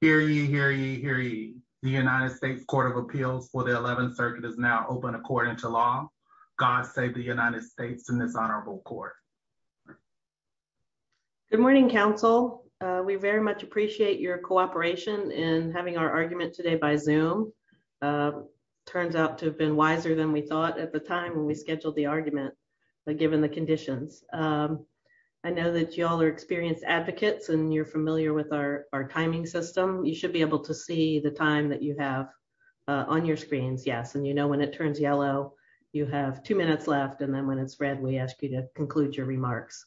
Hear ye, hear ye, hear ye. The United States Court of Appeals for the 11th circuit is now open according to law. God save the United States in this honorable court. Good morning, counsel. We very much appreciate your cooperation in having our argument today by Zoom. Turns out to have been wiser than we thought at the time when we scheduled the argument, but given the conditions. I know that y'all are experienced advocates and you're familiar with our timing system. You should be able to see the time that you have on your screens. Yes, and you know when it turns yellow, you have two minutes left. And then when it's red, we ask you to conclude your remarks.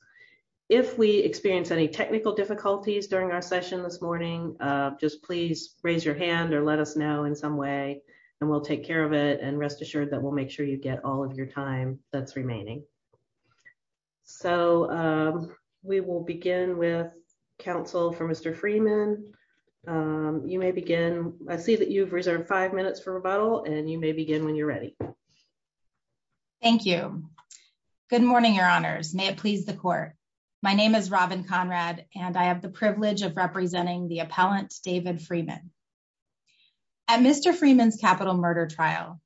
If we experience any technical difficulties during our session this morning, just please raise your hand or let us know in some way and we'll take care of it and rest assured that we'll make sure you get all of your time that's remaining. So we will begin with counsel for Mr. Freeman. You may begin. I see that you've reserved five minutes for rebuttal and you may begin when you're ready. Thank you. Good morning, your honors. May it please the court. My name is Robin Conrad and I have the privilege of representing the appellant David Freeman. At Mr. Freeman's capital murder trial,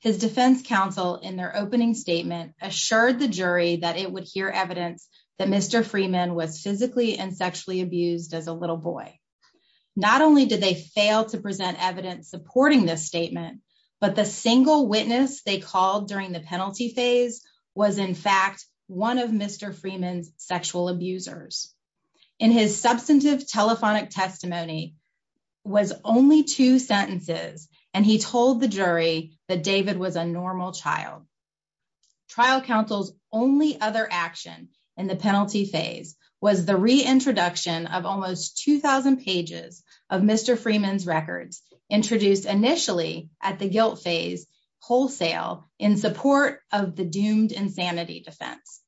his defense counsel in their opening statement assured the jury that it would hear evidence that Mr. Freeman was physically and sexually abused as a little boy. Not only did they fail to present evidence supporting this statement, but the single witness they called during the penalty phase was in fact one of Mr. Freeman's sexual abusers. In his substantive telephonic testimony was only two sentences and he told the trial counsel's only other action in the penalty phase was the reintroduction of almost 2,000 pages of Mr. Freeman's records introduced initially at the guilt phase wholesale in support of the doomed insanity defense.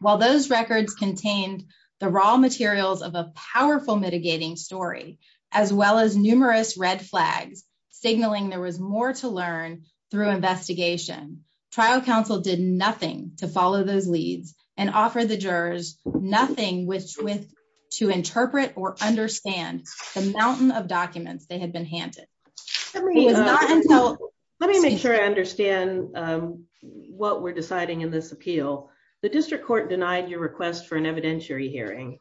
While those records contained the raw materials of a powerful mitigating story, as well as numerous red flags signaling there was more to learn through investigation, trial counsel did nothing to follow those leads and offer the jurors nothing with to interpret or understand the mountain of documents they had been handed. Let me make sure I understand what we're deciding in this appeal. The district court denied your request for an evidentiary hearing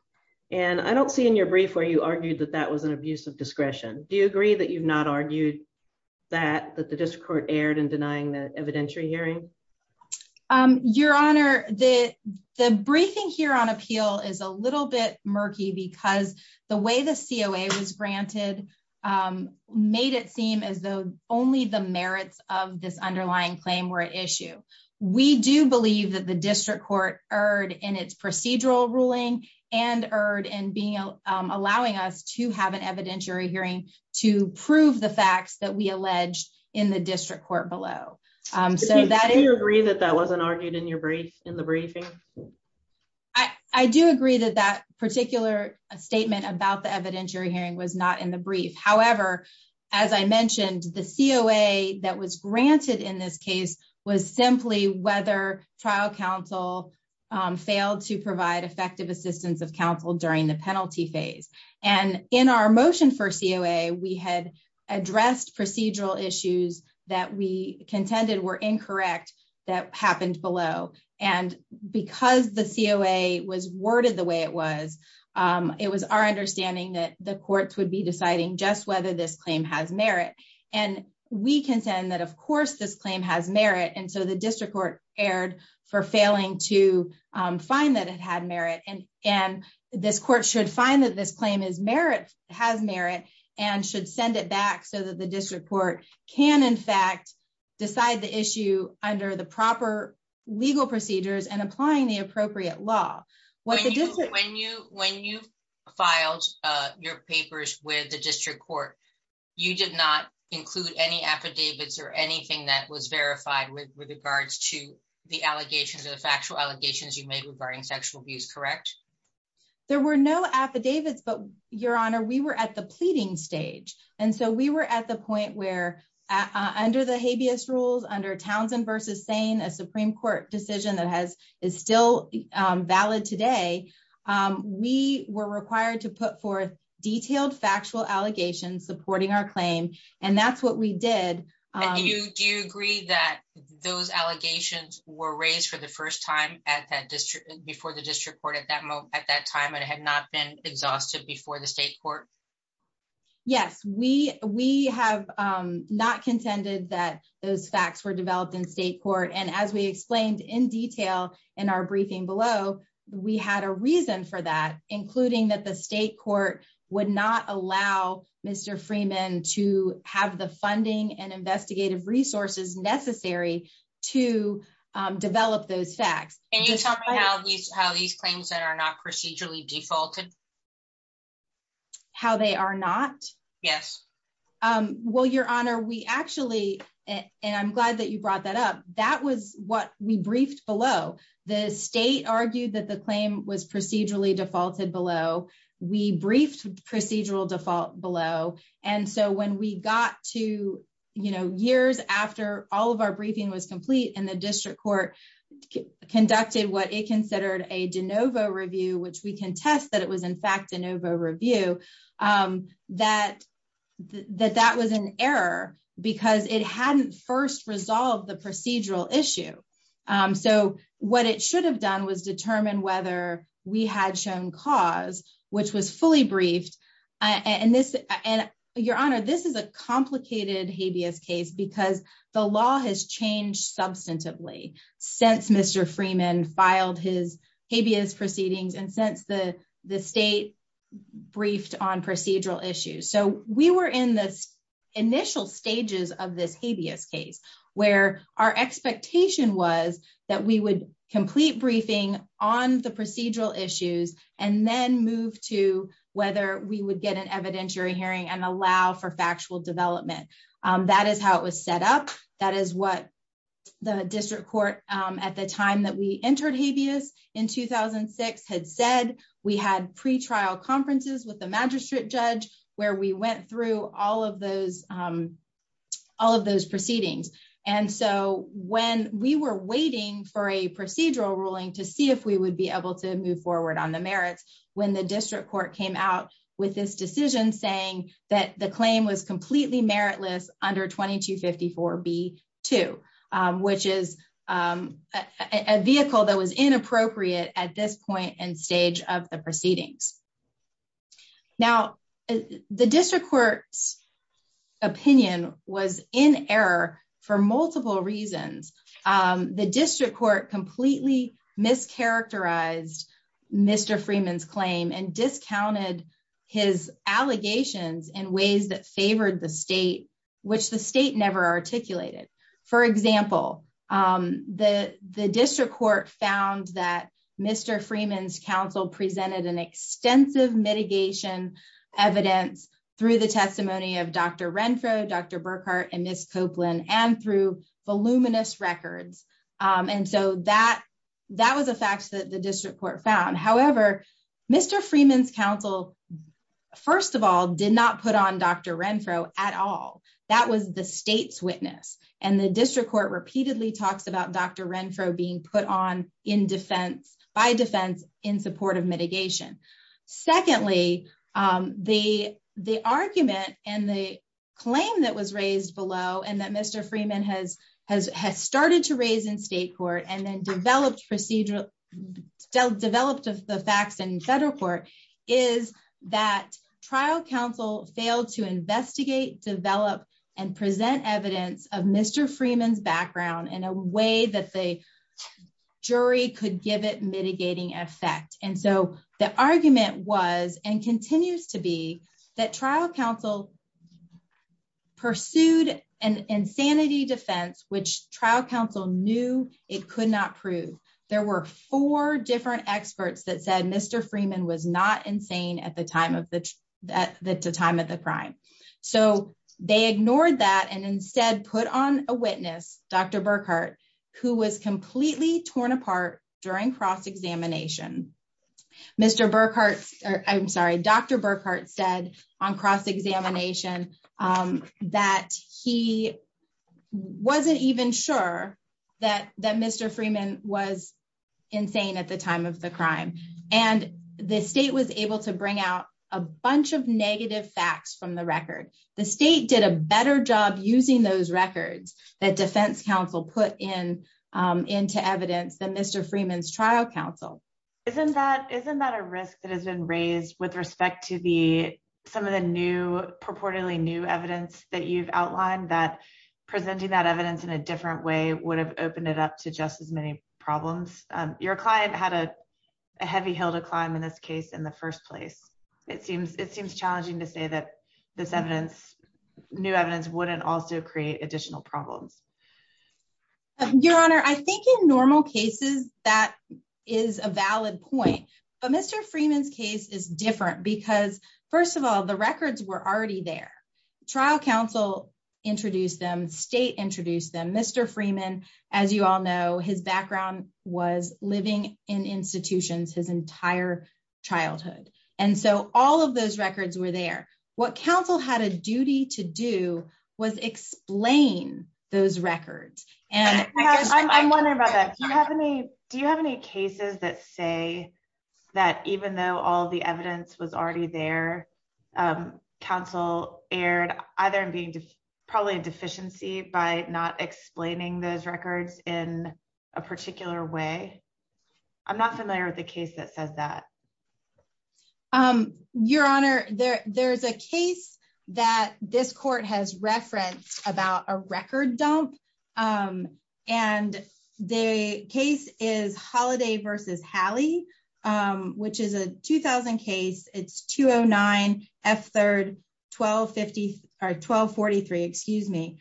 and I don't see in your brief where you argued that that was an abuse of discretion. Do you agree with that? Your honor, the briefing here on appeal is a little bit murky because the way the COA was granted made it seem as though only the merits of this underlying claim were at issue. We do believe that the district court erred in its procedural ruling and erred in being allowing us to have an evidentiary hearing to prove the facts that we alleged in the district court below. Do you agree that that wasn't argued in the briefing? I do agree that that particular statement about the evidentiary hearing was not in the brief. However, as I mentioned, the COA that was granted in this case was simply whether trial counsel failed to provide effective assistance of counsel during the penalty phase. In our motion for COA, we had addressed procedural issues that we contended were incorrect that happened below. Because the COA was worded the way it was, it was our understanding that the courts would be deciding just whether this claim has merit. We contend that of course this claim has merit and so the district court erred for failing to find that it had merit. And this court should find that this claim has merit and should send it back so that the district court can in fact decide the issue under the proper legal procedures and applying the appropriate law. When you filed your papers with the district court, you did not include any affidavits or anything that was verified with regards to the allegations or the factual allegations you made regarding sexual abuse, correct? There were no affidavits, but Your Honor, we were at the pleading stage. And so we were at the point where under the habeas rules, under Townsend versus Sane, a Supreme Court decision that is still valid today, we were required to put forth detailed factual allegations supporting our claim. And that's what we did. Do you agree that those before the district court at that moment, at that time, it had not been exhausted before the state court? Yes, we have not contended that those facts were developed in state court. And as we explained in detail in our briefing below, we had a reason for that, including that the state court would not allow Mr. Freeman to have the funding and investigative resources necessary to develop those facts. Can you tell me how these claims that are not procedurally defaulted? How they are not? Yes. Well, Your Honor, we actually, and I'm glad that you brought that up. That was what we briefed below. The state argued that the claim was procedurally defaulted below. We briefed procedural default below. And so when we got to years after all of our briefing was conducted, what it considered a de novo review, which we can test that it was in fact de novo review, that that that was an error, because it hadn't first resolved the procedural issue. So what it should have done was determine whether we had shown cause, which was fully briefed. And this and Your Honor, this is a complicated habeas case, because the law has changed substantively since Mr. Freeman filed his habeas proceedings, and since the the state briefed on procedural issues. So we were in this initial stages of this habeas case, where our expectation was that we would complete briefing on the procedural issues, and then move to whether we would get an evidentiary hearing and allow for factual the district court at the time that we entered habeas in 2006 had said, we had pre trial conferences with the magistrate judge, where we went through all of those, all of those proceedings. And so when we were waiting for a procedural ruling to see if we would be able to move forward on the merits, when the district court came out with this decision saying that the claim was which is a vehicle that was inappropriate at this point and stage of the proceedings. Now, the district court's opinion was in error for multiple reasons. The district court completely mischaracterized Mr. Freeman's claim and discounted his allegations and ways that the the district court found that Mr. Freeman's counsel presented an extensive mitigation evidence through the testimony of Dr. Renfro, Dr. Burkhardt and Miss Copeland and through voluminous records. And so that that was a fact that the district court found. However, Mr. Freeman's counsel, first of all, did not put on Dr. Renfro at all. That was the state's repeatedly talks about Dr. Renfro being put on in defense by defense in support of mitigation. Secondly, the the argument and the claim that was raised below and that Mr. Freeman has, has has started to raise in state court and then developed procedural developed of the facts and federal court is that trial counsel failed to investigate, develop and present evidence of Mr. Freeman's background in a way that the jury could give it mitigating effect. And so the argument was and continues to be that trial counsel pursued an insanity defense, which trial counsel knew it could not prove. There were four different experts that said Mr. Freeman was not insane at the time of the at the time of the crime. So they ignored that and instead put on a witness, Dr. Burkhardt, who was completely torn apart during cross examination. Mr. Burkhardt, I'm sorry, Dr. Burkhardt said on cross examination that he wasn't even sure that that Mr. Freeman was insane at the time of the crime. And the state was able to bring out a bunch of negative facts from the record. The state did a better job using those records that defense counsel put in into evidence than Mr. Freeman's trial counsel. Isn't that isn't that a risk that has been raised with respect to the some of the new purportedly new evidence that you've outlined that presenting that evidence in a different way would have opened it up to just as many problems. Your client had a heavy hill to climb in this case in the first place. It seems it seems challenging to say that this evidence, new evidence wouldn't also create additional problems. Your Honor, I think in normal cases, that is a valid point. But Mr. Freeman's case is different because first of all, the records were already there. Trial counsel introduced them state introduced them. Mr. Freeman, as you all know, his background was living in institutions his entire childhood. And so all of those records were there. What counsel had a duty to do was explain those records. And I'm wondering about that. Do you have any do you have any cases that say that even though all the evidence was already there, counsel aired either being probably a deficiency by not explaining those records in a particular way? I'm not familiar with the case that says that. Your Honor, there there's a case that this court has referenced about a record dump. And the case is holiday versus Hallie, which is a 2000 case. It's 209 F. Third, 1250 or 1243, excuse me,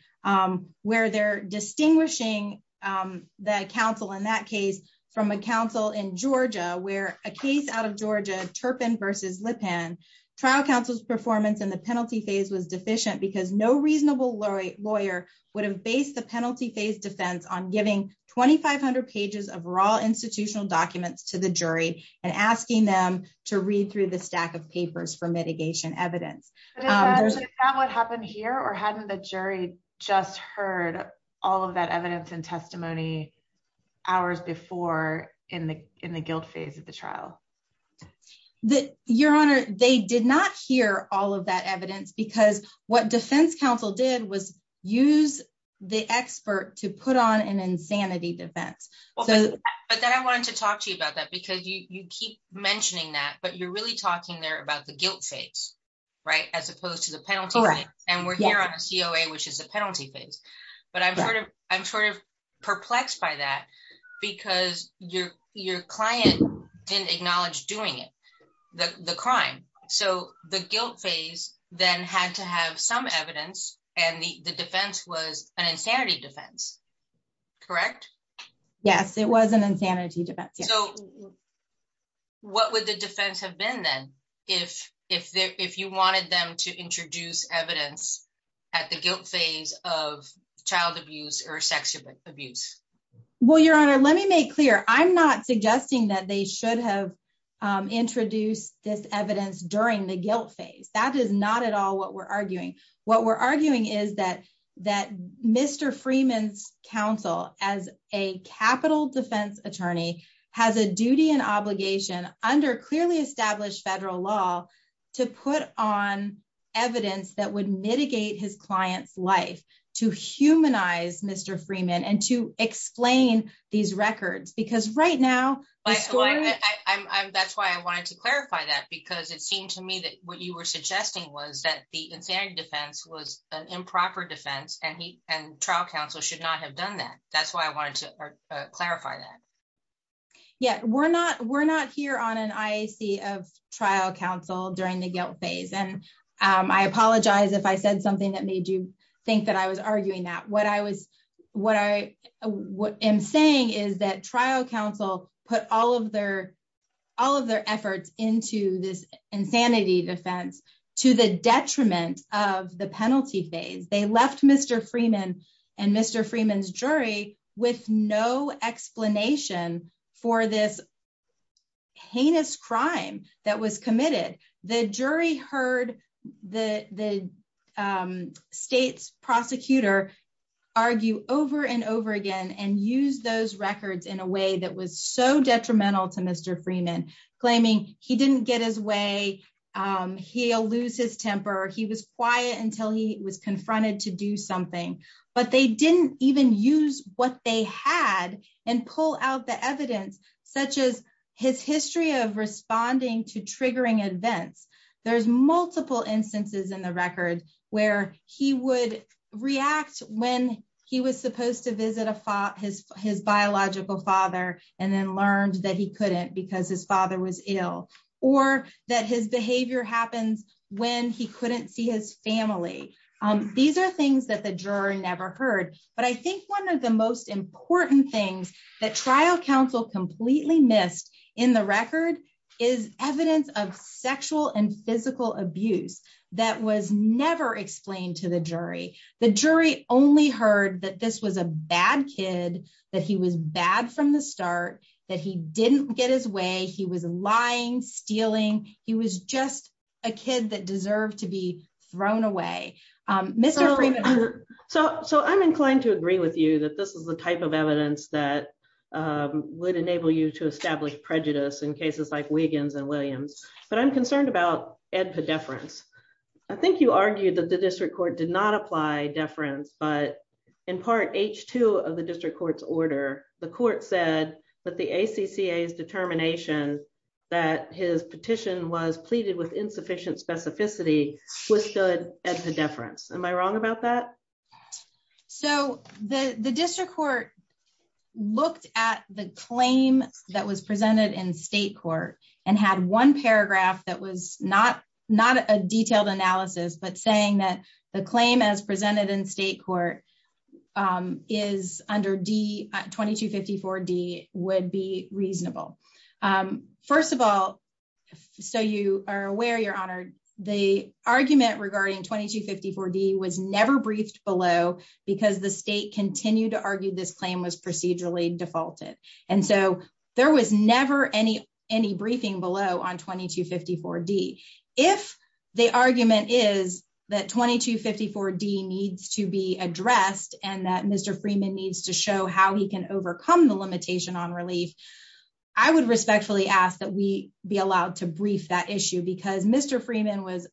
where they're distinguishing the counsel in that case from a counsel in Georgia, where a case out of Georgia, Turpin versus Lipan trial counsel's performance in the penalty phase was deficient because no reasonable lawyer would have based the penalty phase defense on giving 2500 pages of raw institutional documents to the jury and asking them to read through the stack of papers for mitigation evidence. What happened here? Or hadn't the jury just heard all of that evidence and testimony hours before in the in the guilt phase of the trial? The Your Honor, they did not hear all of that evidence because what defense counsel did was use the expert to put on an insanity defense. But then I wanted to talk to you about that, because you keep mentioning that, but you're really talking there about the guilt phase, right, as opposed to the penalty. And we're here on a COA, which is a penalty phase. But I'm sort of I'm sort of perplexed by that, because your your client didn't acknowledge doing it, the crime. So the guilt phase, then had to have some evidence. And the defense was an insanity defense. Correct? Yes, it was an insanity defense. So what would the defense have been then, if if if you wanted them to introduce evidence at the guilt phase of child abuse or sexual abuse? Well, Your Honor, let me make clear, I'm not suggesting that they should have introduced this evidence during the guilt phase. That is not at all what we're arguing. What we're arguing is that that Mr. Freeman's counsel as a capital defense attorney has a duty and obligation under clearly established federal law to put on evidence that would mitigate his clients life to humanize Mr. Freeman and to explain these records because right now, that's why I wanted to clarify that because it seemed to me that what you were suggesting was that the insanity defense was an improper defense and he and trial counsel should not have done that. That's why I wanted to clarify that. Yeah, we're not we're not here on an IAC of trial counsel during the guilt phase. And I apologize if I said something that made you think that I was arguing that what I was what I what I'm saying is that trial counsel put all of all of their efforts into this insanity defense to the detriment of the penalty phase. They left Mr. Freeman and Mr. Freeman's jury with no explanation for this heinous crime that was committed. The jury heard the state's prosecutor argue over and over again and use those records in a way that was so detrimental to Mr. Freeman, claiming he didn't get his way. He'll lose his temper. He was quiet until he was confronted to do something. But they didn't even use what they had and pull out the evidence, such as his history of responding to triggering events. There's multiple instances in the record where he would react when he was supposed to visit his his biological father and then learned that he couldn't because his father was ill or that his behavior happens when he couldn't see his family. These are things that the jury never heard. But I think one of the most important things that trial counsel completely missed in the record is evidence of sexual and physical abuse that was never explained to the jury. The jury only heard that this was a bad kid, that he was bad from the start, that he didn't get his way. He was lying, stealing. He was just a kid that deserved to be thrown away. Mr. Freeman. So I'm inclined to agree with you that this is the type of evidence that would enable you to establish prejudice in cases like Wiggins and Williams, but I'm concerned about EDPA deference. I think you argued that the district court did not apply deference, but in part, H2 of the district court's order, the court said that the ACCA's determination that his petition was pleaded with insufficient specificity was good at the deference. Am I wrong about that? So the district court looked at the claim that was presented in state court and had one paragraph that was not a detailed analysis, but saying that the claim as presented in state court is under D 2254 D would be reasonable. First of all, so you are aware, your honor, the argument regarding 2254 D was never briefed below because the state continued to argue this claim was procedurally defaulted. And so there was never any briefing below on 2254 D. If the argument is that 2254 D needs to be addressed and that Mr. Freeman needs to show how he can overcome the limitation on relief, I would respectfully ask that we be allowed to brief that issue because Mr. Freeman was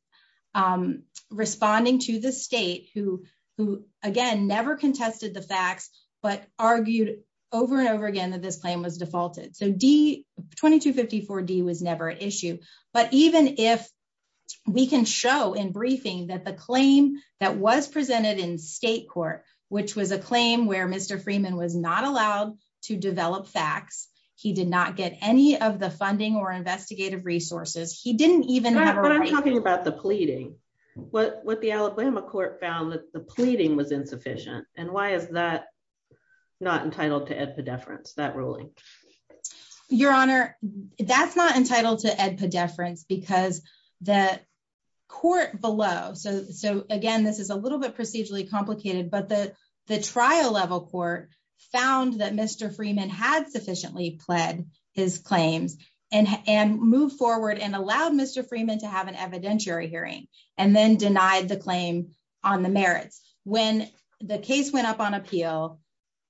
responding to the state who, again, never contested the facts, but argued over and over again that this claim was defaulted. So 2254 D was never an issue. But even if we can show in briefing that the claim that was presented in state court, which was a claim where Mr. Freeman was not allowed to develop facts, he did not get any of the funding or investigative resources. He didn't even have a right. But I'm talking about the pleading. What the Alabama court found that the pleading was insufficient. And why is that not entitled to a deference, that ruling? Your Honor, that's not entitled to a deference because the court below. So again, this is a little bit procedurally complicated, but the trial level court found that Mr. Freeman had sufficiently pled his claims and moved forward and allowed Mr. Freeman to have an evidentiary hearing and then denied the claim on the merits. When the case went up on appeal,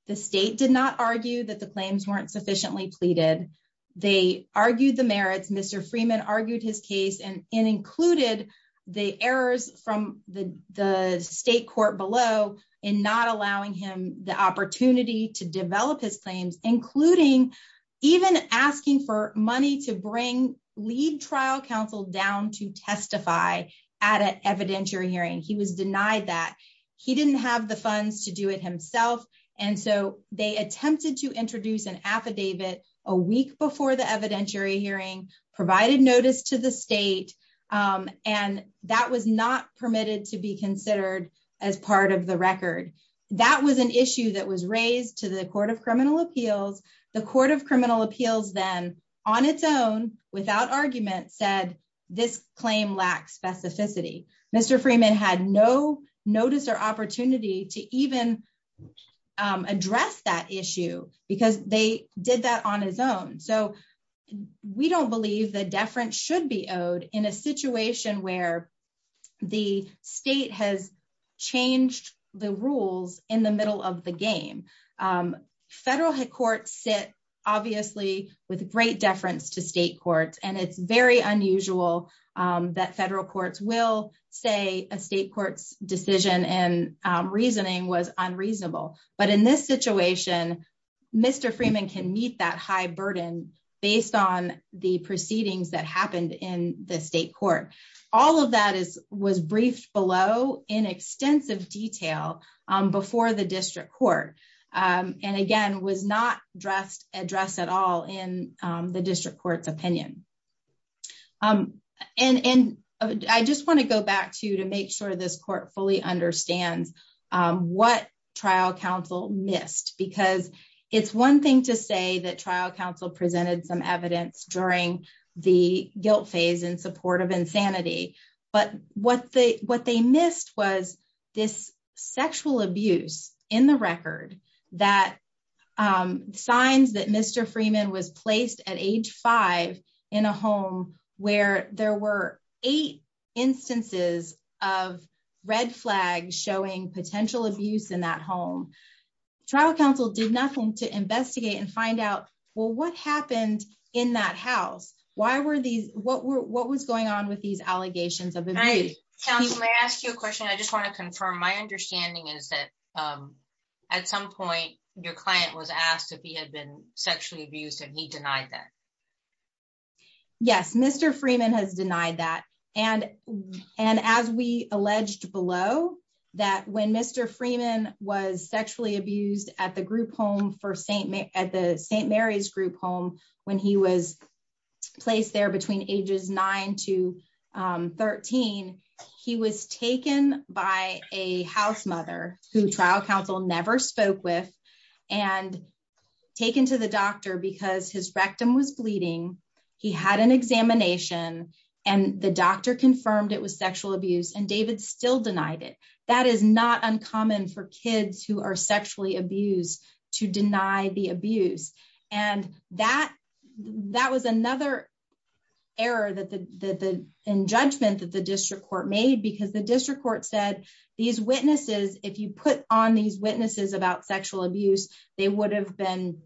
the state did not argue that the claims weren't sufficiently pleaded. They argued the merits. Mr. Freeman argued his case and included the errors from the state court below in not allowing him the opportunity to develop his claims, including even asking for money to bring lead trial counsel down to testify at an evidentiary hearing. He was denied that he didn't have the funds to do it himself. And so they attempted to introduce an affidavit a week before the evidentiary hearing, provided notice to the state. And that was not permitted to be considered as part of the record. That was an issue that was raised to the Court of Criminal Appeals. The Court of Criminal Appeals then on its own, without argument, said this claim lacks specificity. Mr. Freeman had no notice or that issue because they did that on his own. So we don't believe that deference should be owed in a situation where the state has changed the rules in the middle of the game. Federal courts sit obviously with great deference to state courts, and it's very unusual that federal courts will say a state court's decision and reasoning was unreasonable. But in this situation, Mr. Freeman can meet that high burden based on the proceedings that happened in the state court. All of that was briefed below in extensive detail before the district court. And again, was not addressed at all in the district court's opinion. And I just want to go back to you to make sure this court fully understands what trial counsel missed. Because it's one thing to say that trial counsel presented some evidence during the guilt phase in support of insanity. But what they missed was this sexual abuse in the record that signs that Mr. Freeman was placed at age five in a home where there were eight instances of red flags showing potential abuse in that home. Trial counsel did nothing to investigate and find out, well, what happened in that house? What was going on with these allegations of abuse? Counsel, may I ask you a question? I just want to confirm. My understanding is that at some point, your client was asked if he had been sexually abused, and he denied that. Yes, Mr. Freeman has denied that. And as we alleged below, that when Mr. Freeman was sexually abused at the group home for St. Mary's group home, when he was placed there between ages nine to 13, he was taken by a house mother who trial counsel never spoke with, and taken to the doctor because his rectum was bleeding. He had an examination, and the doctor are sexually abused to deny the abuse. And that was another error in judgment that the district court made because the district court said these witnesses, if you put on these witnesses about sexual abuse, they would have been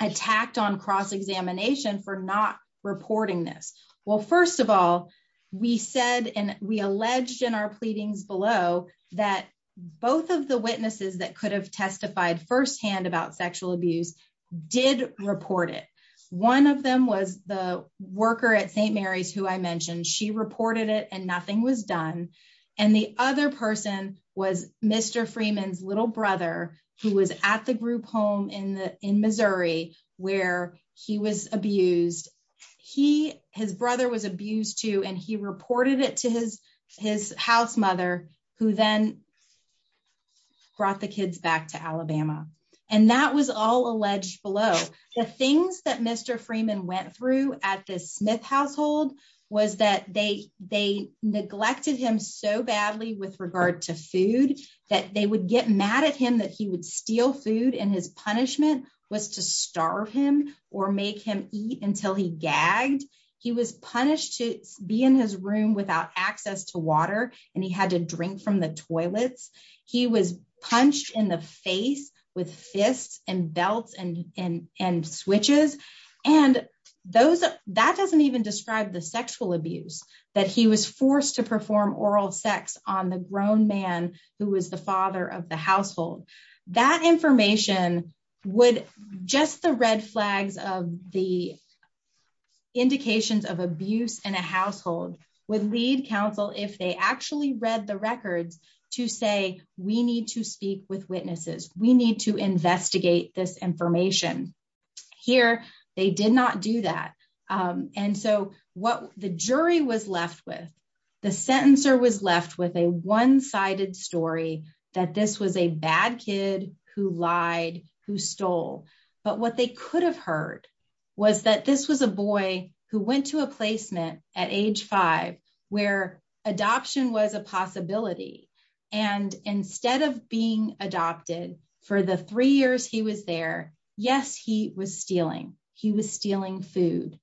attacked on cross-examination for not reporting this. Well, first of all, we said, and we alleged in our pleadings below that both of the witnesses that could have testified firsthand about sexual abuse did report it. One of them was the worker at St. Mary's who I mentioned, she reported it and nothing was done. And the other person was Mr. Freeman's little brother, who was at the group home in Missouri, where he was abused. He, his brother was abused too, and he reported it to his house mother, who then brought the kids back to Alabama. And that was all alleged below. The things that Mr. Freeman went through at the Smith household was that they neglected him so badly with regard to food, that they would get mad at him that he would steal food and his punishment was to starve him or make him eat until he gagged. He was punished to be in his room without access to water and he had to drink from the toilets. He was punched in the face with fists and belts and switches. And that doesn't even describe the sexual abuse that he was forced to perform oral sex on the of the indications of abuse in a household with lead counsel, if they actually read the records to say, we need to speak with witnesses, we need to investigate this information. Here, they did not do that. And so what the jury was left with, the sentencer was left with a one-sided story that this was a bad kid who lied, who stole. But what they could have heard was that this was a boy who went to a placement at age five, where adoption was a possibility. And instead of being adopted for the three years he was there, yes, he was stealing. He was stealing food.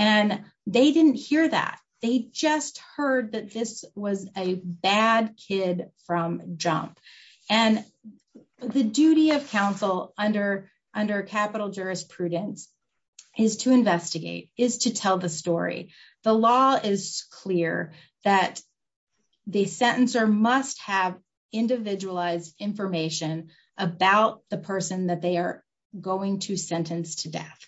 And they didn't hear that. They just heard that this was a bad kid from jump. And the duty of counsel under capital jurisprudence is to investigate, is to tell the story. The law is clear that the sentencer must have individualized information about the person that they are going to sentence to death.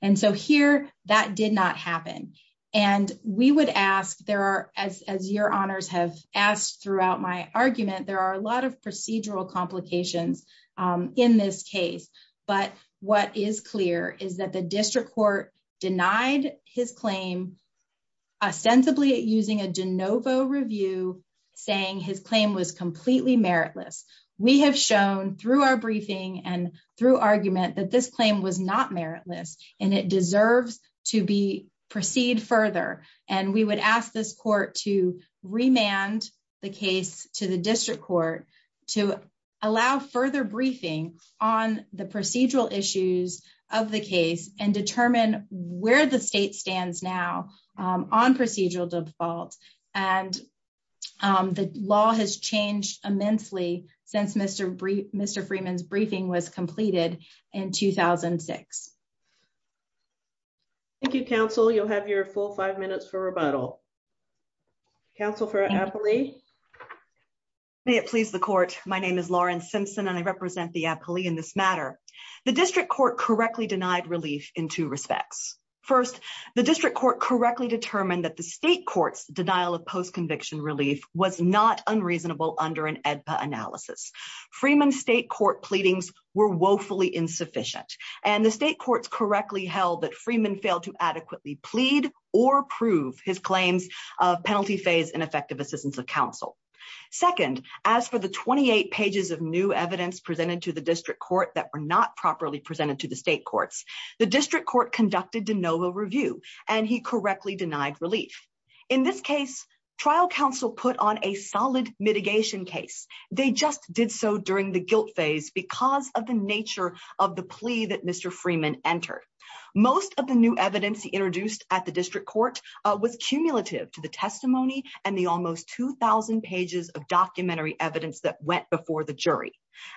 And so here, that did not happen. And we would ask there are, as your honors have asked throughout my argument, there are a lot of procedural complications in this case. But what is clear is that the district court denied his claim, ostensibly using a de novo review, saying his claim was completely meritless. We have shown through our briefing and through argument that this claim was not meritless, and it deserves to be proceed further. And we would ask this court to remand the case to the district court to allow further briefing on the procedural issues of the case and determine where the state stands now on procedural defaults. And the law has changed immensely since Mr. Freeman's briefing was completed in 2006. Thank you, counsel. You'll have your full five minutes for rebuttal. Counsel for the appellee. May it please the court. My name is Lauren Simpson and I represent the appellee in this matter. The district court correctly denied relief in two respects. First, the district court correctly determined that the state court's denial of post-conviction relief was not unreasonable under an AEDPA analysis. Freeman's state court pleadings were woefully insufficient. And the state courts correctly held that Freeman failed to adequately plead or prove his claims of penalty phase and effective assistance of counsel. Second, as for the 28 pages of new evidence presented to the district court that were not properly presented to the state courts, the district court conducted de novo review and he correctly denied relief. In this case, trial counsel put on a solid mitigation case. They just did so during the guilt phase because of the nature of the plea that Mr. Freeman entered. Most of the new evidence introduced at the district court was cumulative to the testimony and the almost 2000 pages of documentary evidence that went before the jury.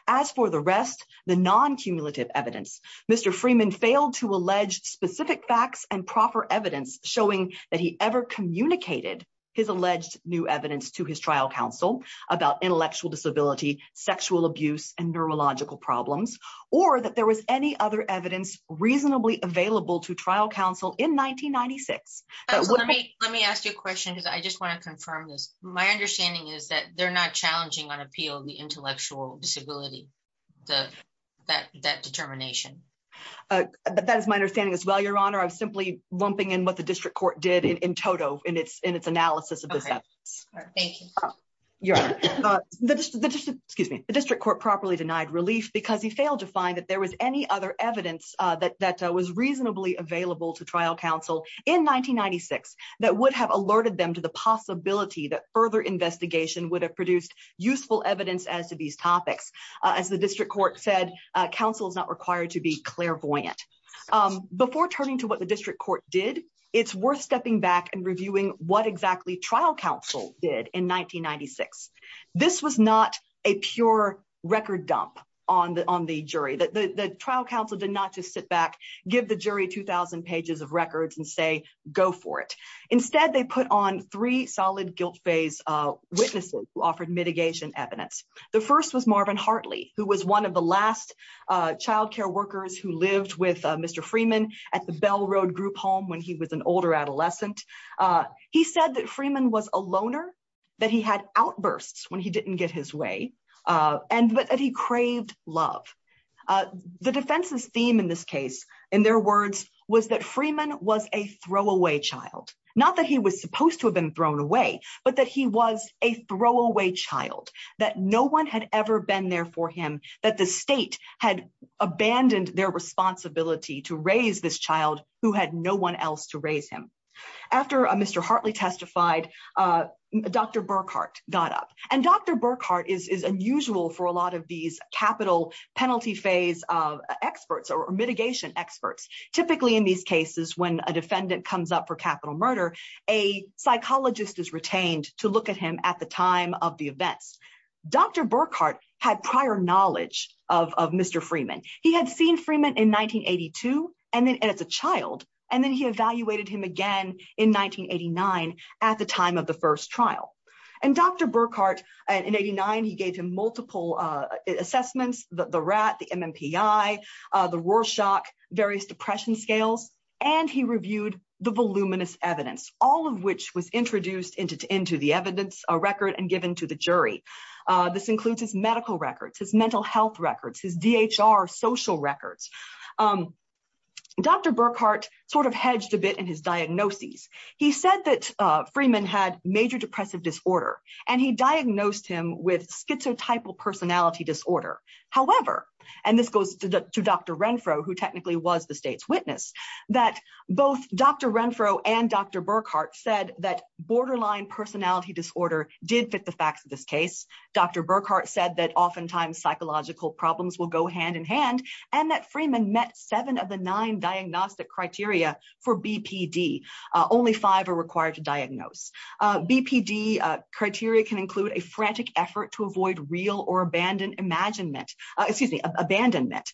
As for the rest, the non-cumulative evidence, Mr. Freeman failed to allege specific facts and proper evidence showing that he ever communicated his alleged new evidence to his trial counsel about intellectual disability, sexual abuse, and neurological problems, or that there was any other evidence reasonably available to trial counsel in 1996. Let me ask you a question because I just want to confirm this. My understanding is that they're not challenging on appeal the intellectual disability, that determination. That is my understanding as well, Your Honor. I'm simply lumping in what the district court did in total in its analysis of this evidence. Thank you. Your Honor, the district court properly denied relief because he failed to find that there was any other evidence that was reasonably available to trial counsel in 1996 that would have alerted them to the possibility that further investigation would have produced useful evidence as to these topics. As the district court said, counsel is not required to be clairvoyant. Before turning to what the district court did, it's worth stepping back and reviewing what exactly trial counsel did in 1996. This was not a pure record dump on the jury. The trial counsel did not just sit back, give the jury 2000 pages of records, and say, go for it. Instead, they put on three solid guilt witnesses who offered mitigation evidence. The first was Marvin Hartley, who was one of the last child care workers who lived with Mr. Freeman at the Bell Road group home when he was an older adolescent. He said that Freeman was a loner, that he had outbursts when he didn't get his way, and that he craved love. The defense's theme in this case, in their words, was that Freeman was a throwaway child. Not that he was supposed to have been thrown away, but that he was a throwaway child, that no one had ever been there for him, that the state had abandoned their responsibility to raise this child who had no one else to raise him. After Mr. Hartley testified, Dr. Burkhart got up. Dr. Burkhart is unusual for a lot of these capital penalty phase experts or mitigation experts. Typically, in these cases, when a defendant comes up for capital murder, a psychologist is retained to look at him at the time of the events. Dr. Burkhart had prior knowledge of Mr. Freeman. He had seen Freeman in 1982 as a child, and then he evaluated him again in 1989 at the time of the first trial. Dr. Burkhart, in 89, gave him multiple assessments, the RAT, the MMPI, the Rorschach, various depression scales, and he reviewed the voluminous evidence, all of which was introduced into the evidence record and given to the jury. This includes his medical records, his mental health records, his DHR social records. Dr. Burkhart sort of hedged a bit in his diagnoses. He said that Freeman had major depressive disorder, and he diagnosed him with schizotypal personality disorder. However, and this goes to Dr. Renfro, who technically was the state's witness, that both Dr. Renfro and Dr. Burkhart said that borderline personality disorder did fit the facts of this case. Dr. Burkhart said that oftentimes psychological problems will go hand in hand, and that Freeman met seven of the diagnostic criteria for BPD. Only five are required to diagnose. BPD criteria can include a frantic effort to avoid real or abandoned imaginment, excuse me, abandonment.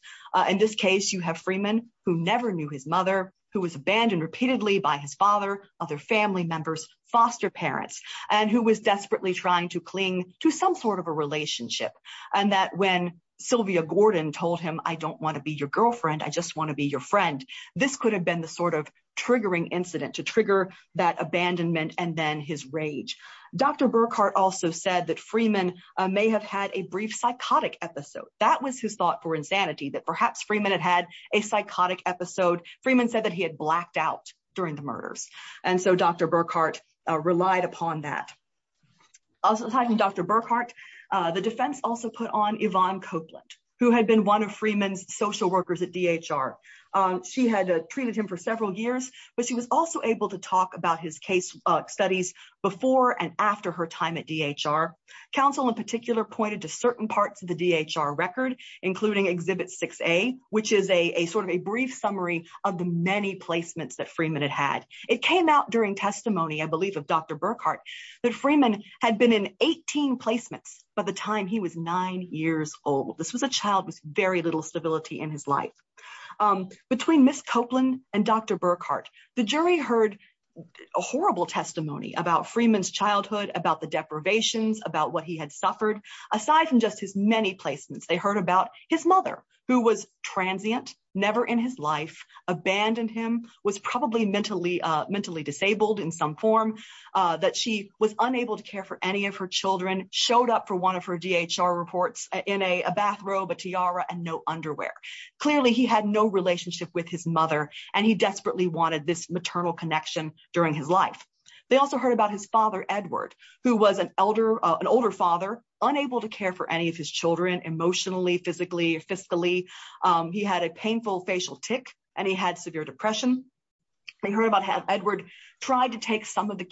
In this case, you have Freeman, who never knew his mother, who was abandoned repeatedly by his father, other family members, foster parents, and who was desperately trying to cling to some sort of a relationship, and that when Sylvia Gordon told him, I don't want to be your girlfriend, I just want to be your friend, this could have been the sort of triggering incident to trigger that abandonment, and then his rage. Dr. Burkhart also said that Freeman may have had a brief psychotic episode. That was his thought for insanity, that perhaps Freeman had had a psychotic episode. Freeman said that he had blacked out during the murders, and so Dr. Burkhart relied upon that. Aside from Dr. Burkhart, the defense also put on Yvonne Copeland, who had been one of Freeman's social workers at she had treated him for several years, but she was also able to talk about his case studies before and after her time at DHR. Counsel in particular pointed to certain parts of the DHR record, including Exhibit 6A, which is a sort of a brief summary of the many placements that Freeman had had. It came out during testimony, I believe, of Dr. Burkhart, that Freeman had been in 18 placements by the time he was nine years old. This was a child with very little stability in his life. Between Ms. Copeland and Dr. Burkhart, the jury heard a horrible testimony about Freeman's childhood, about the deprivations, about what he had suffered. Aside from just his many placements, they heard about his mother, who was transient, never in his life, abandoned him, was probably mentally disabled in some form, that she was unable to care for any of her children, showed up for one of her DHR reports in a bathrobe, a tiara, and no underwear. Clearly, he had no relationship with his mother, and he desperately wanted this maternal connection during his life. They also heard about his father, Edward, who was an elder, an older father, unable to care for any of his children emotionally, physically, fiscally. He had a painful facial tick, and he had severe depression. They heard about how Edward tried to take some of the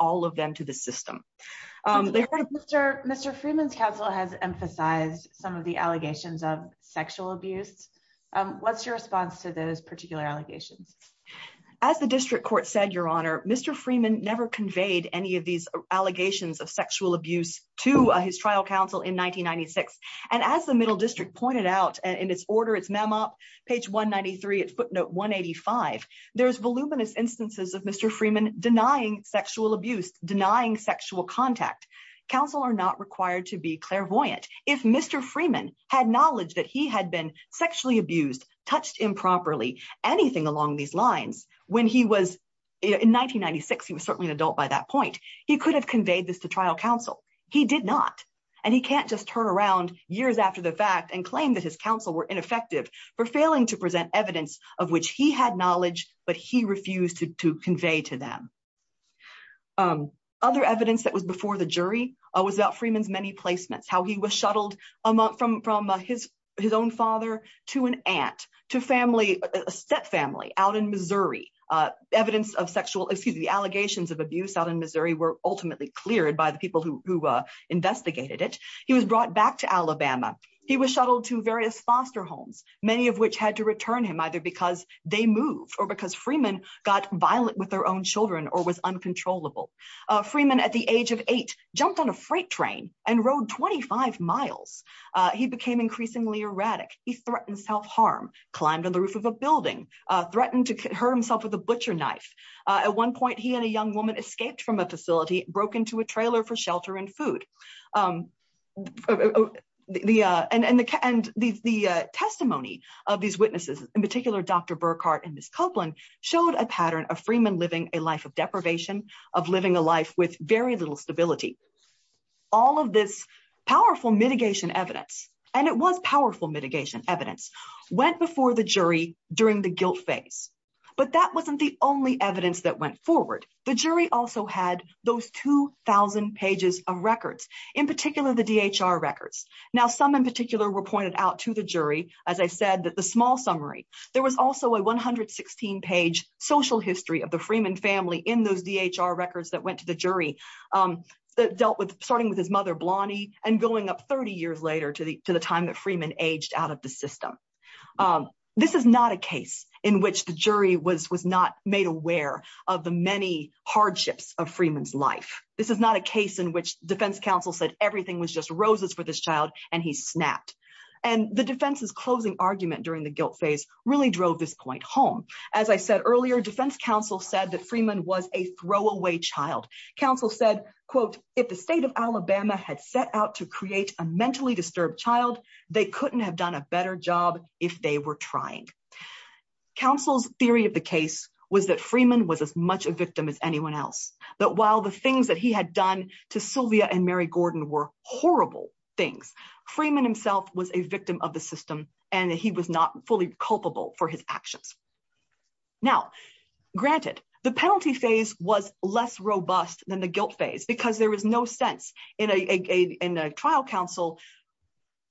all of them to the system. Mr. Freeman's counsel has emphasized some of the allegations of sexual abuse. What's your response to those particular allegations? As the district court said, Your Honor, Mr. Freeman never conveyed any of these allegations of sexual abuse to his trial counsel in 1996. As the Middle District pointed out in its order, its memo, page 193, footnote 185, there's voluminous instances of Mr. Freeman denying sexual abuse, denying sexual contact. Counsel are not required to be clairvoyant. If Mr. Freeman had knowledge that he had been sexually abused, touched improperly, anything along these lines, when he was in 1996, he was certainly an adult by that point, he could have conveyed this to trial counsel. He did not, and he can't just turn around years after the fact and claim that his counsel were ineffective for failing to present evidence of which he had knowledge, but he refused to convey to them. Other evidence that was before the jury was about Freeman's many placements, how he was shuttled from his own father to an aunt, to family, a stepfamily out in Missouri. Evidence of sexual, excuse me, the allegations of abuse out in Missouri were ultimately cleared by the people who investigated it. He was brought back to Alabama. He was shuttled to various foster homes, many of which had to return him either because they moved or because Freeman got violent with their own children or was uncontrollable. Freeman at the age of eight jumped on a freight train and rode 25 miles. He became increasingly erratic. He threatened self-harm, climbed on the roof of a building, threatened to hurt himself with a butcher knife. At one point, he and a testimony of these witnesses, in particular, Dr. Burkhart and Ms. Copeland, showed a pattern of Freeman living a life of deprivation, of living a life with very little stability. All of this powerful mitigation evidence, and it was powerful mitigation evidence, went before the jury during the guilt phase, but that wasn't the only evidence that went forward. The jury also had those 2,000 pages of records, in particular, the DHR records. Now, some in I said that the small summary, there was also a 116-page social history of the Freeman family in those DHR records that went to the jury that dealt with starting with his mother, Blonnie, and going up 30 years later to the time that Freeman aged out of the system. This is not a case in which the jury was not made aware of the many hardships of Freeman's life. This is not a case in which defense counsel said everything was just roses for this child, and he snapped. The defense's closing argument during the guilt phase really drove this point home. As I said earlier, defense counsel said that Freeman was a throwaway child. Counsel said, quote, if the state of Alabama had set out to create a mentally disturbed child, they couldn't have done a better job if they were trying. Counsel's theory of the case was that Freeman was as much a victim as anyone else, that while the things that he had done to Sylvia and Mary Gordon were horrible things, Freeman himself was a victim of the system, and he was not fully culpable for his actions. Now, granted, the penalty phase was less robust than the guilt phase because there was no sense in a trial counsel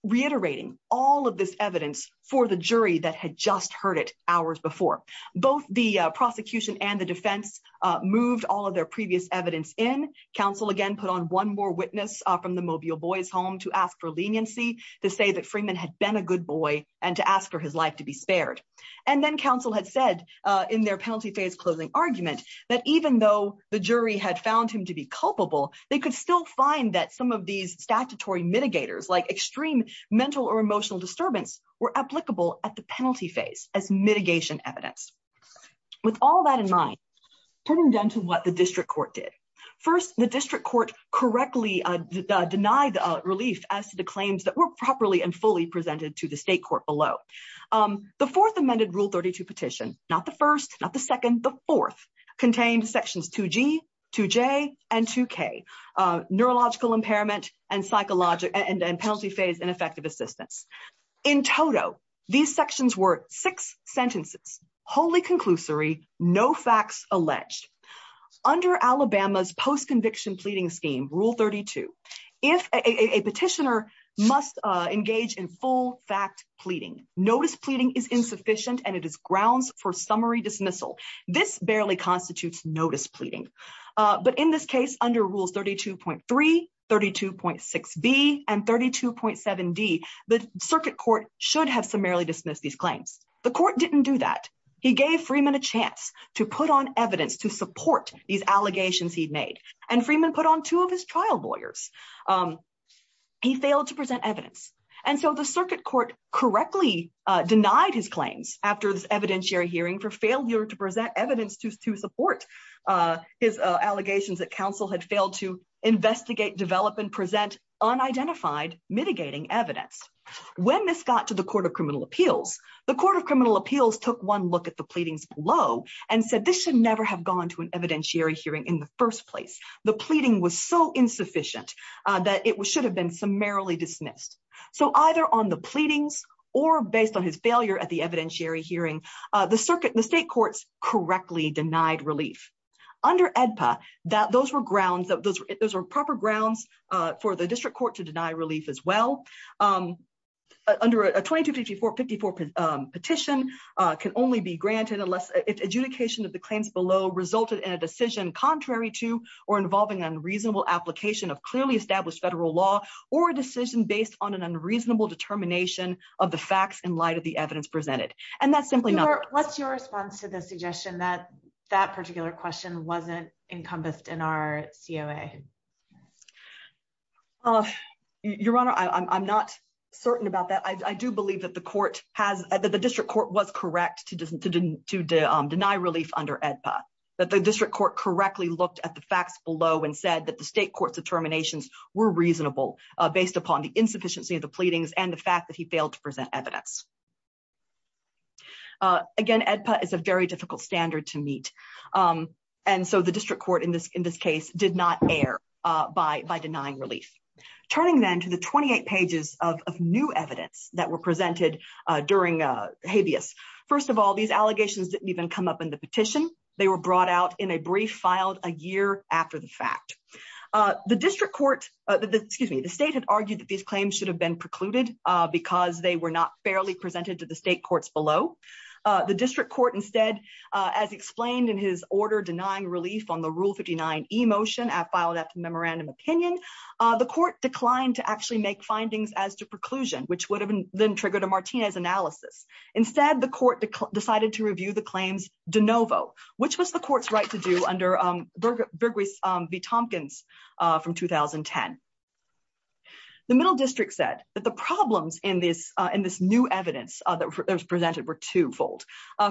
reiterating all of this evidence for the jury that had just heard it hours before. Both the prosecution and the defense moved all of their previous evidence in. Counsel again put on one more witness from the Mobile Boys Home to ask for leniency to say that Freeman had been a good boy and to ask for his life to be spared. And then counsel had said in their penalty phase closing argument that even though the jury had found him to be culpable, they could still find that some of these statutory mitigators, like extreme mental or emotional disturbance, were applicable at the With all that in mind, turning down to what the district court did. First, the district court correctly denied the relief as to the claims that were properly and fully presented to the state court below. The fourth amended Rule 32 petition, not the first, not the second, the fourth, contained sections 2G, 2J, and 2K, neurological impairment and penalty phase and effective assistance. In total, these sections were six sentences, wholly conclusory, no facts alleged. Under Alabama's post-conviction pleading scheme, Rule 32, if a petitioner must engage in full fact pleading, notice pleading is insufficient and it is grounds for summary dismissal. This barely constitutes notice pleading. But in this case, under Rules 32.3, 32.6B, and 32.7D, the circuit court should have summarily dismissed these claims. The court didn't do that. He gave Freeman a chance to put on evidence to support these allegations he'd made. And Freeman put on two of his trial lawyers. He failed to present evidence. And so the circuit court correctly denied his claims after this evidentiary hearing for failure to present evidence to support his allegations that counsel had failed to investigate, develop, and present unidentified mitigating evidence. When this got to the Court of Criminal Appeals, the Court of Criminal Appeals took one look at the pleadings below and said this should never have gone to an evidentiary hearing in the first place. The pleading was so insufficient that it should have been summarily dismissed. So either on the pleadings or based on his failure at the evidentiary hearing, the circuit, the state courts correctly denied relief. Under AEDPA, those were grounds, those were proper grounds for the district court to deny relief as well. Under a 2254-54 petition can only be granted unless adjudication of the claims below resulted in a decision contrary to or involving unreasonable application of clearly established federal law or a decision based on an unreasonable determination of the facts in light of the evidence presented. And that's simply not... What's your response to the suggestion that that particular question wasn't encompassed in our COA? Your Honor, I'm not certain about that. I do believe that the court has, that the district court was correct to deny relief under AEDPA, that the district court correctly looked at the facts below and said that the state court's determinations were reasonable based upon the insufficiency of the pleadings and the fact that he failed to present evidence. Again, AEDPA is a very difficult standard to meet. And so the district court in this case did not err by denying relief. Turning then to the 28 pages of new evidence that were presented during habeas. First of all, these allegations didn't even come up in the petition. They were brought out in a brief filed a year after the fact. The district court, excuse me, the state had argued that these claims should have been precluded because they were not fairly presented to the state courts below. The district court instead, as explained in his order denying relief on the Rule 59 e-motion filed at the memorandum opinion, the court declined to actually make findings as to preclusion, which would have then triggered a Martinez analysis. Instead, the court decided to review the claims de novo, which was the court's right to do under Burgess v. Tompkins from 2010. The middle district said that the problems in this new evidence that was presented were twofold.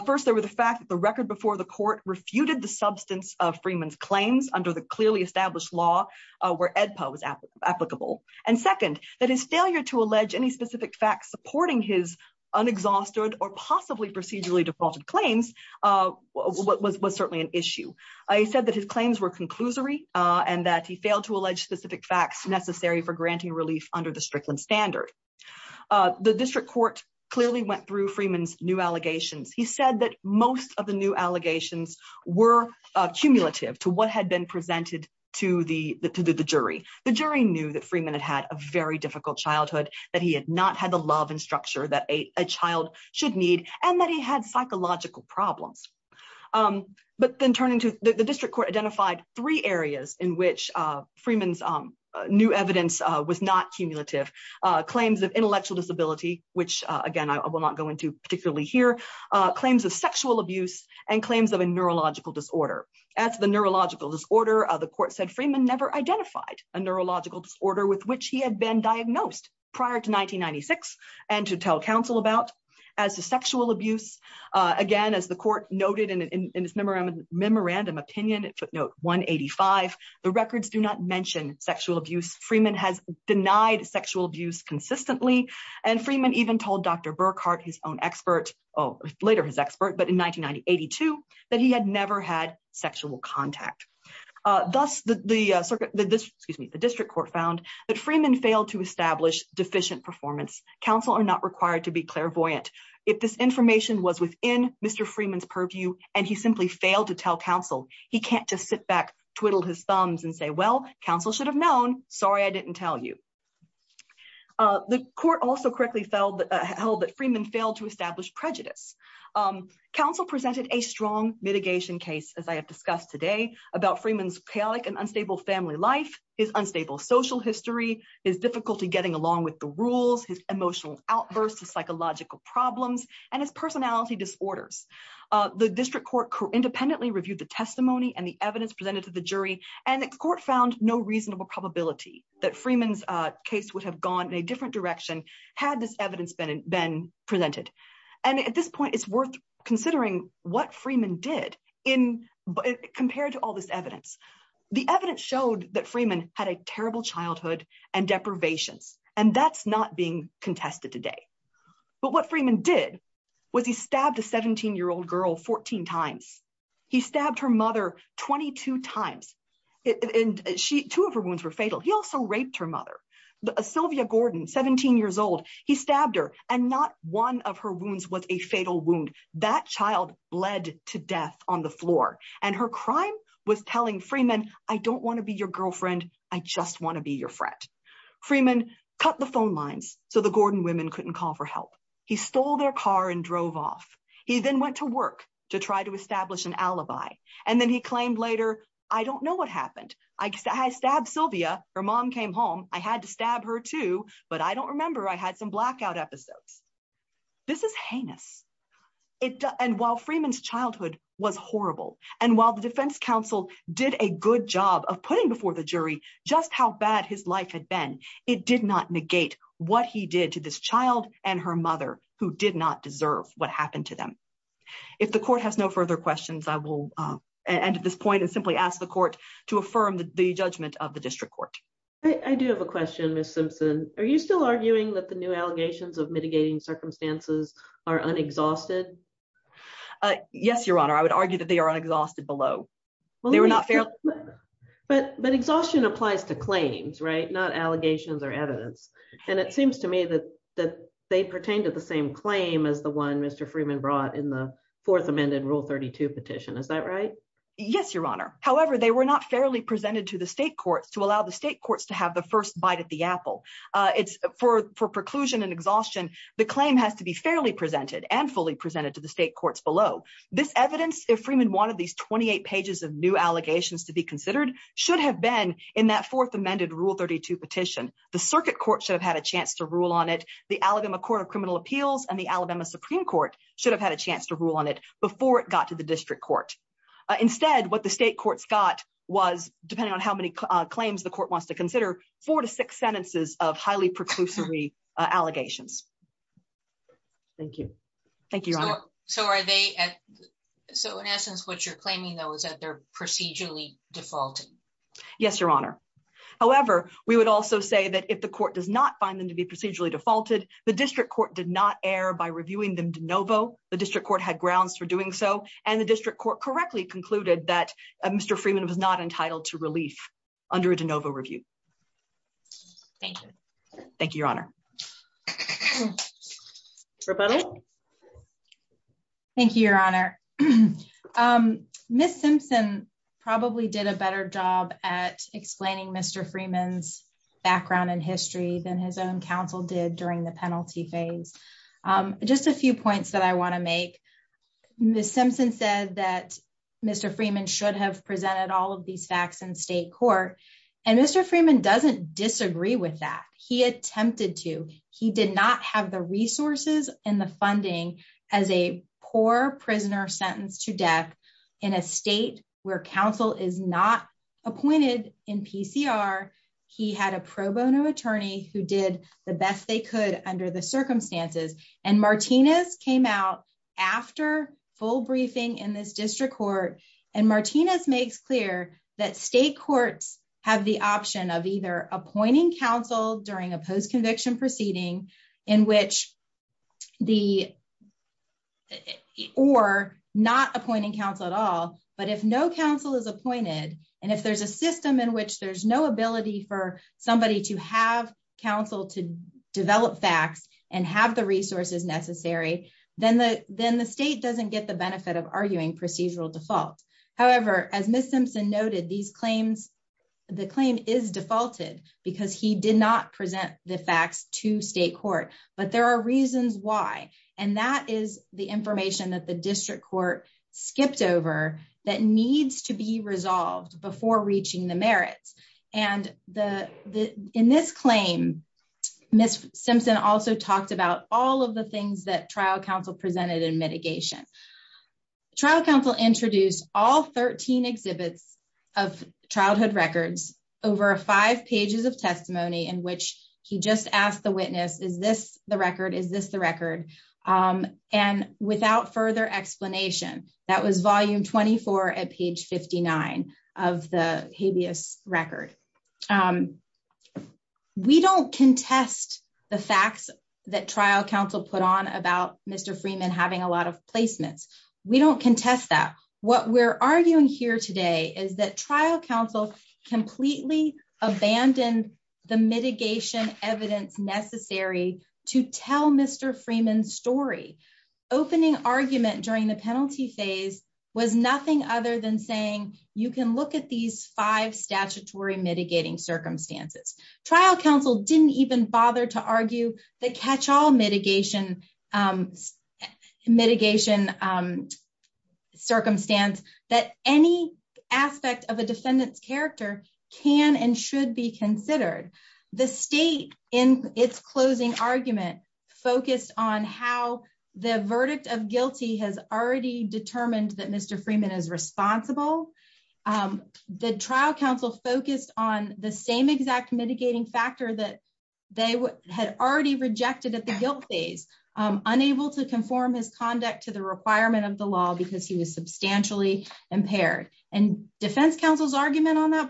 First, there were the fact that the record before the court refuted the substance of Freeman's claims under the clearly established law where AEDPA was applicable. And that his failure to allege any specific facts supporting his unexhausted or possibly procedurally defaulted claims was certainly an issue. He said that his claims were conclusory and that he failed to allege specific facts necessary for granting relief under the Strickland standard. The district court clearly went through Freeman's new allegations. He said that most of the new allegations were cumulative to what had been presented to the jury. The jury knew that Freeman had had a very difficult childhood, that he had not had the love and structure that a child should need, and that he had psychological problems. But then turning to the district court identified three areas in which Freeman's new evidence was not cumulative. Claims of intellectual disability, which again, I will not go into particularly here. Claims of sexual abuse and claims of a neurological disorder. As the neurological disorder, the court said Freeman never identified a neurological disorder with which he had been diagnosed prior to 1996 and to tell counsel about. As to sexual abuse, again, as the court noted in his memorandum opinion, footnote 185, the records do not mention sexual abuse. Freeman has denied sexual abuse consistently. And Freeman even told Dr. Burkhart, his own expert, later his expert, but in 1982, that he had never had The district court found that Freeman failed to establish deficient performance. Counsel are not required to be clairvoyant. If this information was within Mr. Freeman's purview, and he simply failed to tell counsel, he can't just sit back, twiddle his thumbs and say, well, counsel should have known, sorry, I didn't tell you. The court also correctly held that Freeman failed to establish prejudice. Counsel presented a strong mitigation case, as I have discussed today, about his unstable social history, his difficulty getting along with the rules, his emotional outbursts, his psychological problems, and his personality disorders. The district court independently reviewed the testimony and the evidence presented to the jury, and the court found no reasonable probability that Freeman's case would have gone in a different direction had this evidence been been presented. And at this point, it's worth considering what Freeman did in, compared to this evidence. The evidence showed that Freeman had a terrible childhood and deprivations, and that's not being contested today. But what Freeman did was he stabbed a 17-year-old girl 14 times. He stabbed her mother 22 times. And she, two of her wounds were fatal. He also raped her mother. Sylvia Gordon, 17 years old, he stabbed her, and not one of her wounds was a fatal wound. That child bled to death on the floor, and her crime was telling Freeman, I don't want to be your girlfriend. I just want to be your friend. Freeman cut the phone lines so the Gordon women couldn't call for help. He stole their car and drove off. He then went to work to try to establish an alibi, and then he claimed later, I don't know what happened. I stabbed Sylvia. Her mom came home. I had to stab her too, but I don't remember. I had some blackout episodes. This is heinous. And while Freeman's childhood was horrible, and while the defense counsel did a good job of putting before the jury just how bad his life had been, it did not negate what he did to this child and her mother, who did not deserve what happened to them. If the court has no further questions, I will end at this point and simply ask the court to affirm the judgment of the district court. I do have a question, Ms. Simpson. Are you still arguing that the new allegations of mitigating circumstances are unexhausted? Yes, Your Honor. I would argue that they are unexhausted below. They were not fairly... But exhaustion applies to claims, right? Not allegations or evidence. And it seems to me that they pertain to the same claim as the one Mr. Freeman brought in the fourth amended Rule 32 petition. Is that right? Yes, Your Honor. However, they were not fairly presented to the state courts to allow the state courts to have the first bite at the apple. For preclusion and exhaustion, the claim has to be fairly presented and fully presented to the state courts below. This evidence, if Freeman wanted these 28 pages of new allegations to be considered, should have been in that fourth amended Rule 32 petition. The circuit court should have had a chance to rule on it. The Alabama Court of Criminal Appeals and the Alabama Supreme Court should have had a chance to rule on it before it got to the state courts. Instead, what the state courts got was, depending on how many claims the court wants to consider, four to six sentences of highly preclusory allegations. Thank you. Thank you, Your Honor. So in essence, what you're claiming, though, is that they're procedurally defaulted? Yes, Your Honor. However, we would also say that if the court does not find them to be procedurally defaulted, the district court did not err by reviewing them de novo. The district court had that Mr. Freeman was not entitled to relief under a de novo review. Thank you. Thank you, Your Honor. Thank you, Your Honor. Ms. Simpson probably did a better job at explaining Mr. Freeman's background and history than his own counsel did during the penalty phase. Just a few points that I want to make. Ms. Simpson said that Mr. Freeman should have presented all of these facts in state court. And Mr. Freeman doesn't disagree with that. He attempted to. He did not have the resources and the funding as a poor prisoner sentenced to death in a state where counsel is not appointed in PCR. He had a pro bono attorney who did the best they could under the circumstances. And Martinez came out after full briefing in this district court. And Martinez makes clear that state courts have the option of either appointing counsel during a post-conviction proceeding in which the or not appointing counsel at all. But if no counsel is appointed and if there's a system in which there's no ability for somebody to have counsel to develop facts and have the resources necessary, then the then the state doesn't get the benefit of arguing procedural default. However, as Ms. Simpson noted, these claims, the claim is defaulted because he did not present the facts to state court. But there are reasons why. And that is the information that the district court skipped over that needs to be resolved before reaching the merits. And in this claim, Ms. Simpson also talked about all of the things that trial counsel presented in mitigation. Trial counsel introduced all 13 exhibits of childhood records over five pages of testimony in which he just asked the witness, is this the record? Is this the record? And without further explanation, that was volume 24 at page 59 of the habeas record. We don't contest the facts that trial counsel put on about Mr. Freeman having a lot of placements. We don't contest that. What we're arguing here today is that trial counsel completely abandoned the mitigation evidence necessary to tell Mr. Freeman's story. Opening argument during the penalty phase was nothing other than saying you can look at these five statutory mitigating circumstances. Trial counsel didn't even bother to argue the catch all mitigation, mitigation circumstance that any aspect of a defendant's character can and should be considered. The state in its closing argument focused on how the verdict of guilty has already determined that Mr. Freeman is responsible. The trial counsel focused on the same exact mitigating factor that they had already rejected at the guilt phase, unable to conform his conduct to the requirement of the law because he was substantially impaired. And defense counsel's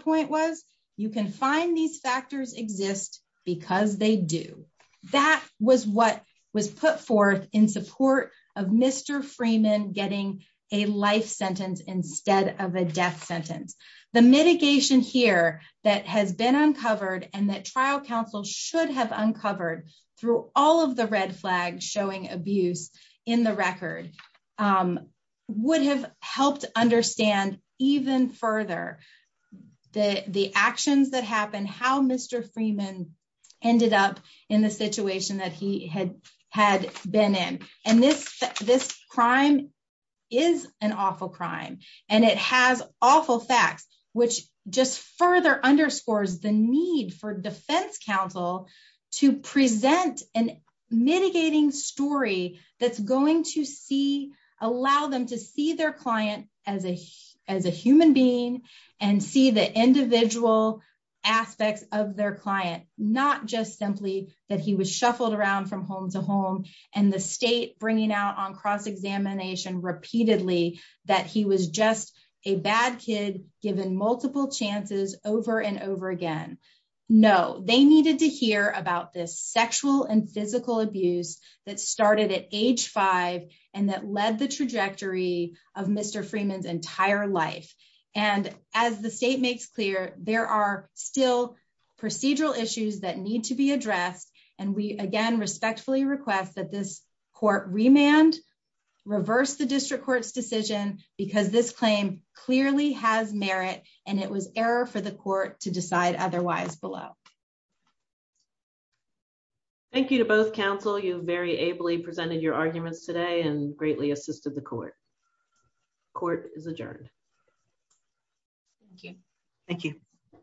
point was, you can find these factors exist because they do. That was what was put forth in support of Mr. Freeman getting a life sentence instead of a death sentence. The mitigation here that has been uncovered and that trial counsel should have uncovered through all of the red flags showing abuse in the record would have helped understand even further the actions that happened, how Mr. Freeman ended up in the situation that he had been in. And this this crime is an awful crime and it has awful facts which just further underscores the need for defense counsel to present a mitigating story that's going to see, allow them to see their client as a human being and see the individual aspects of their client, not just simply that he was shuffled around from home to home and the state bringing out on cross-examination repeatedly that he was just a bad kid given multiple chances over and over again. No, they needed to hear about this sexual and physical abuse that started at age five and that led the trajectory of Mr. Freeman's entire life. And as the state makes clear, there are still procedural issues that need to be addressed. And we again respectfully request that this court remand, reverse the district court's decision because this claim clearly has merit and it was error for the court to decide otherwise below. Thank you to both counsel. You've very ably presented your arguments today and greatly assisted the court. Court is adjourned. Thank you. Thank you.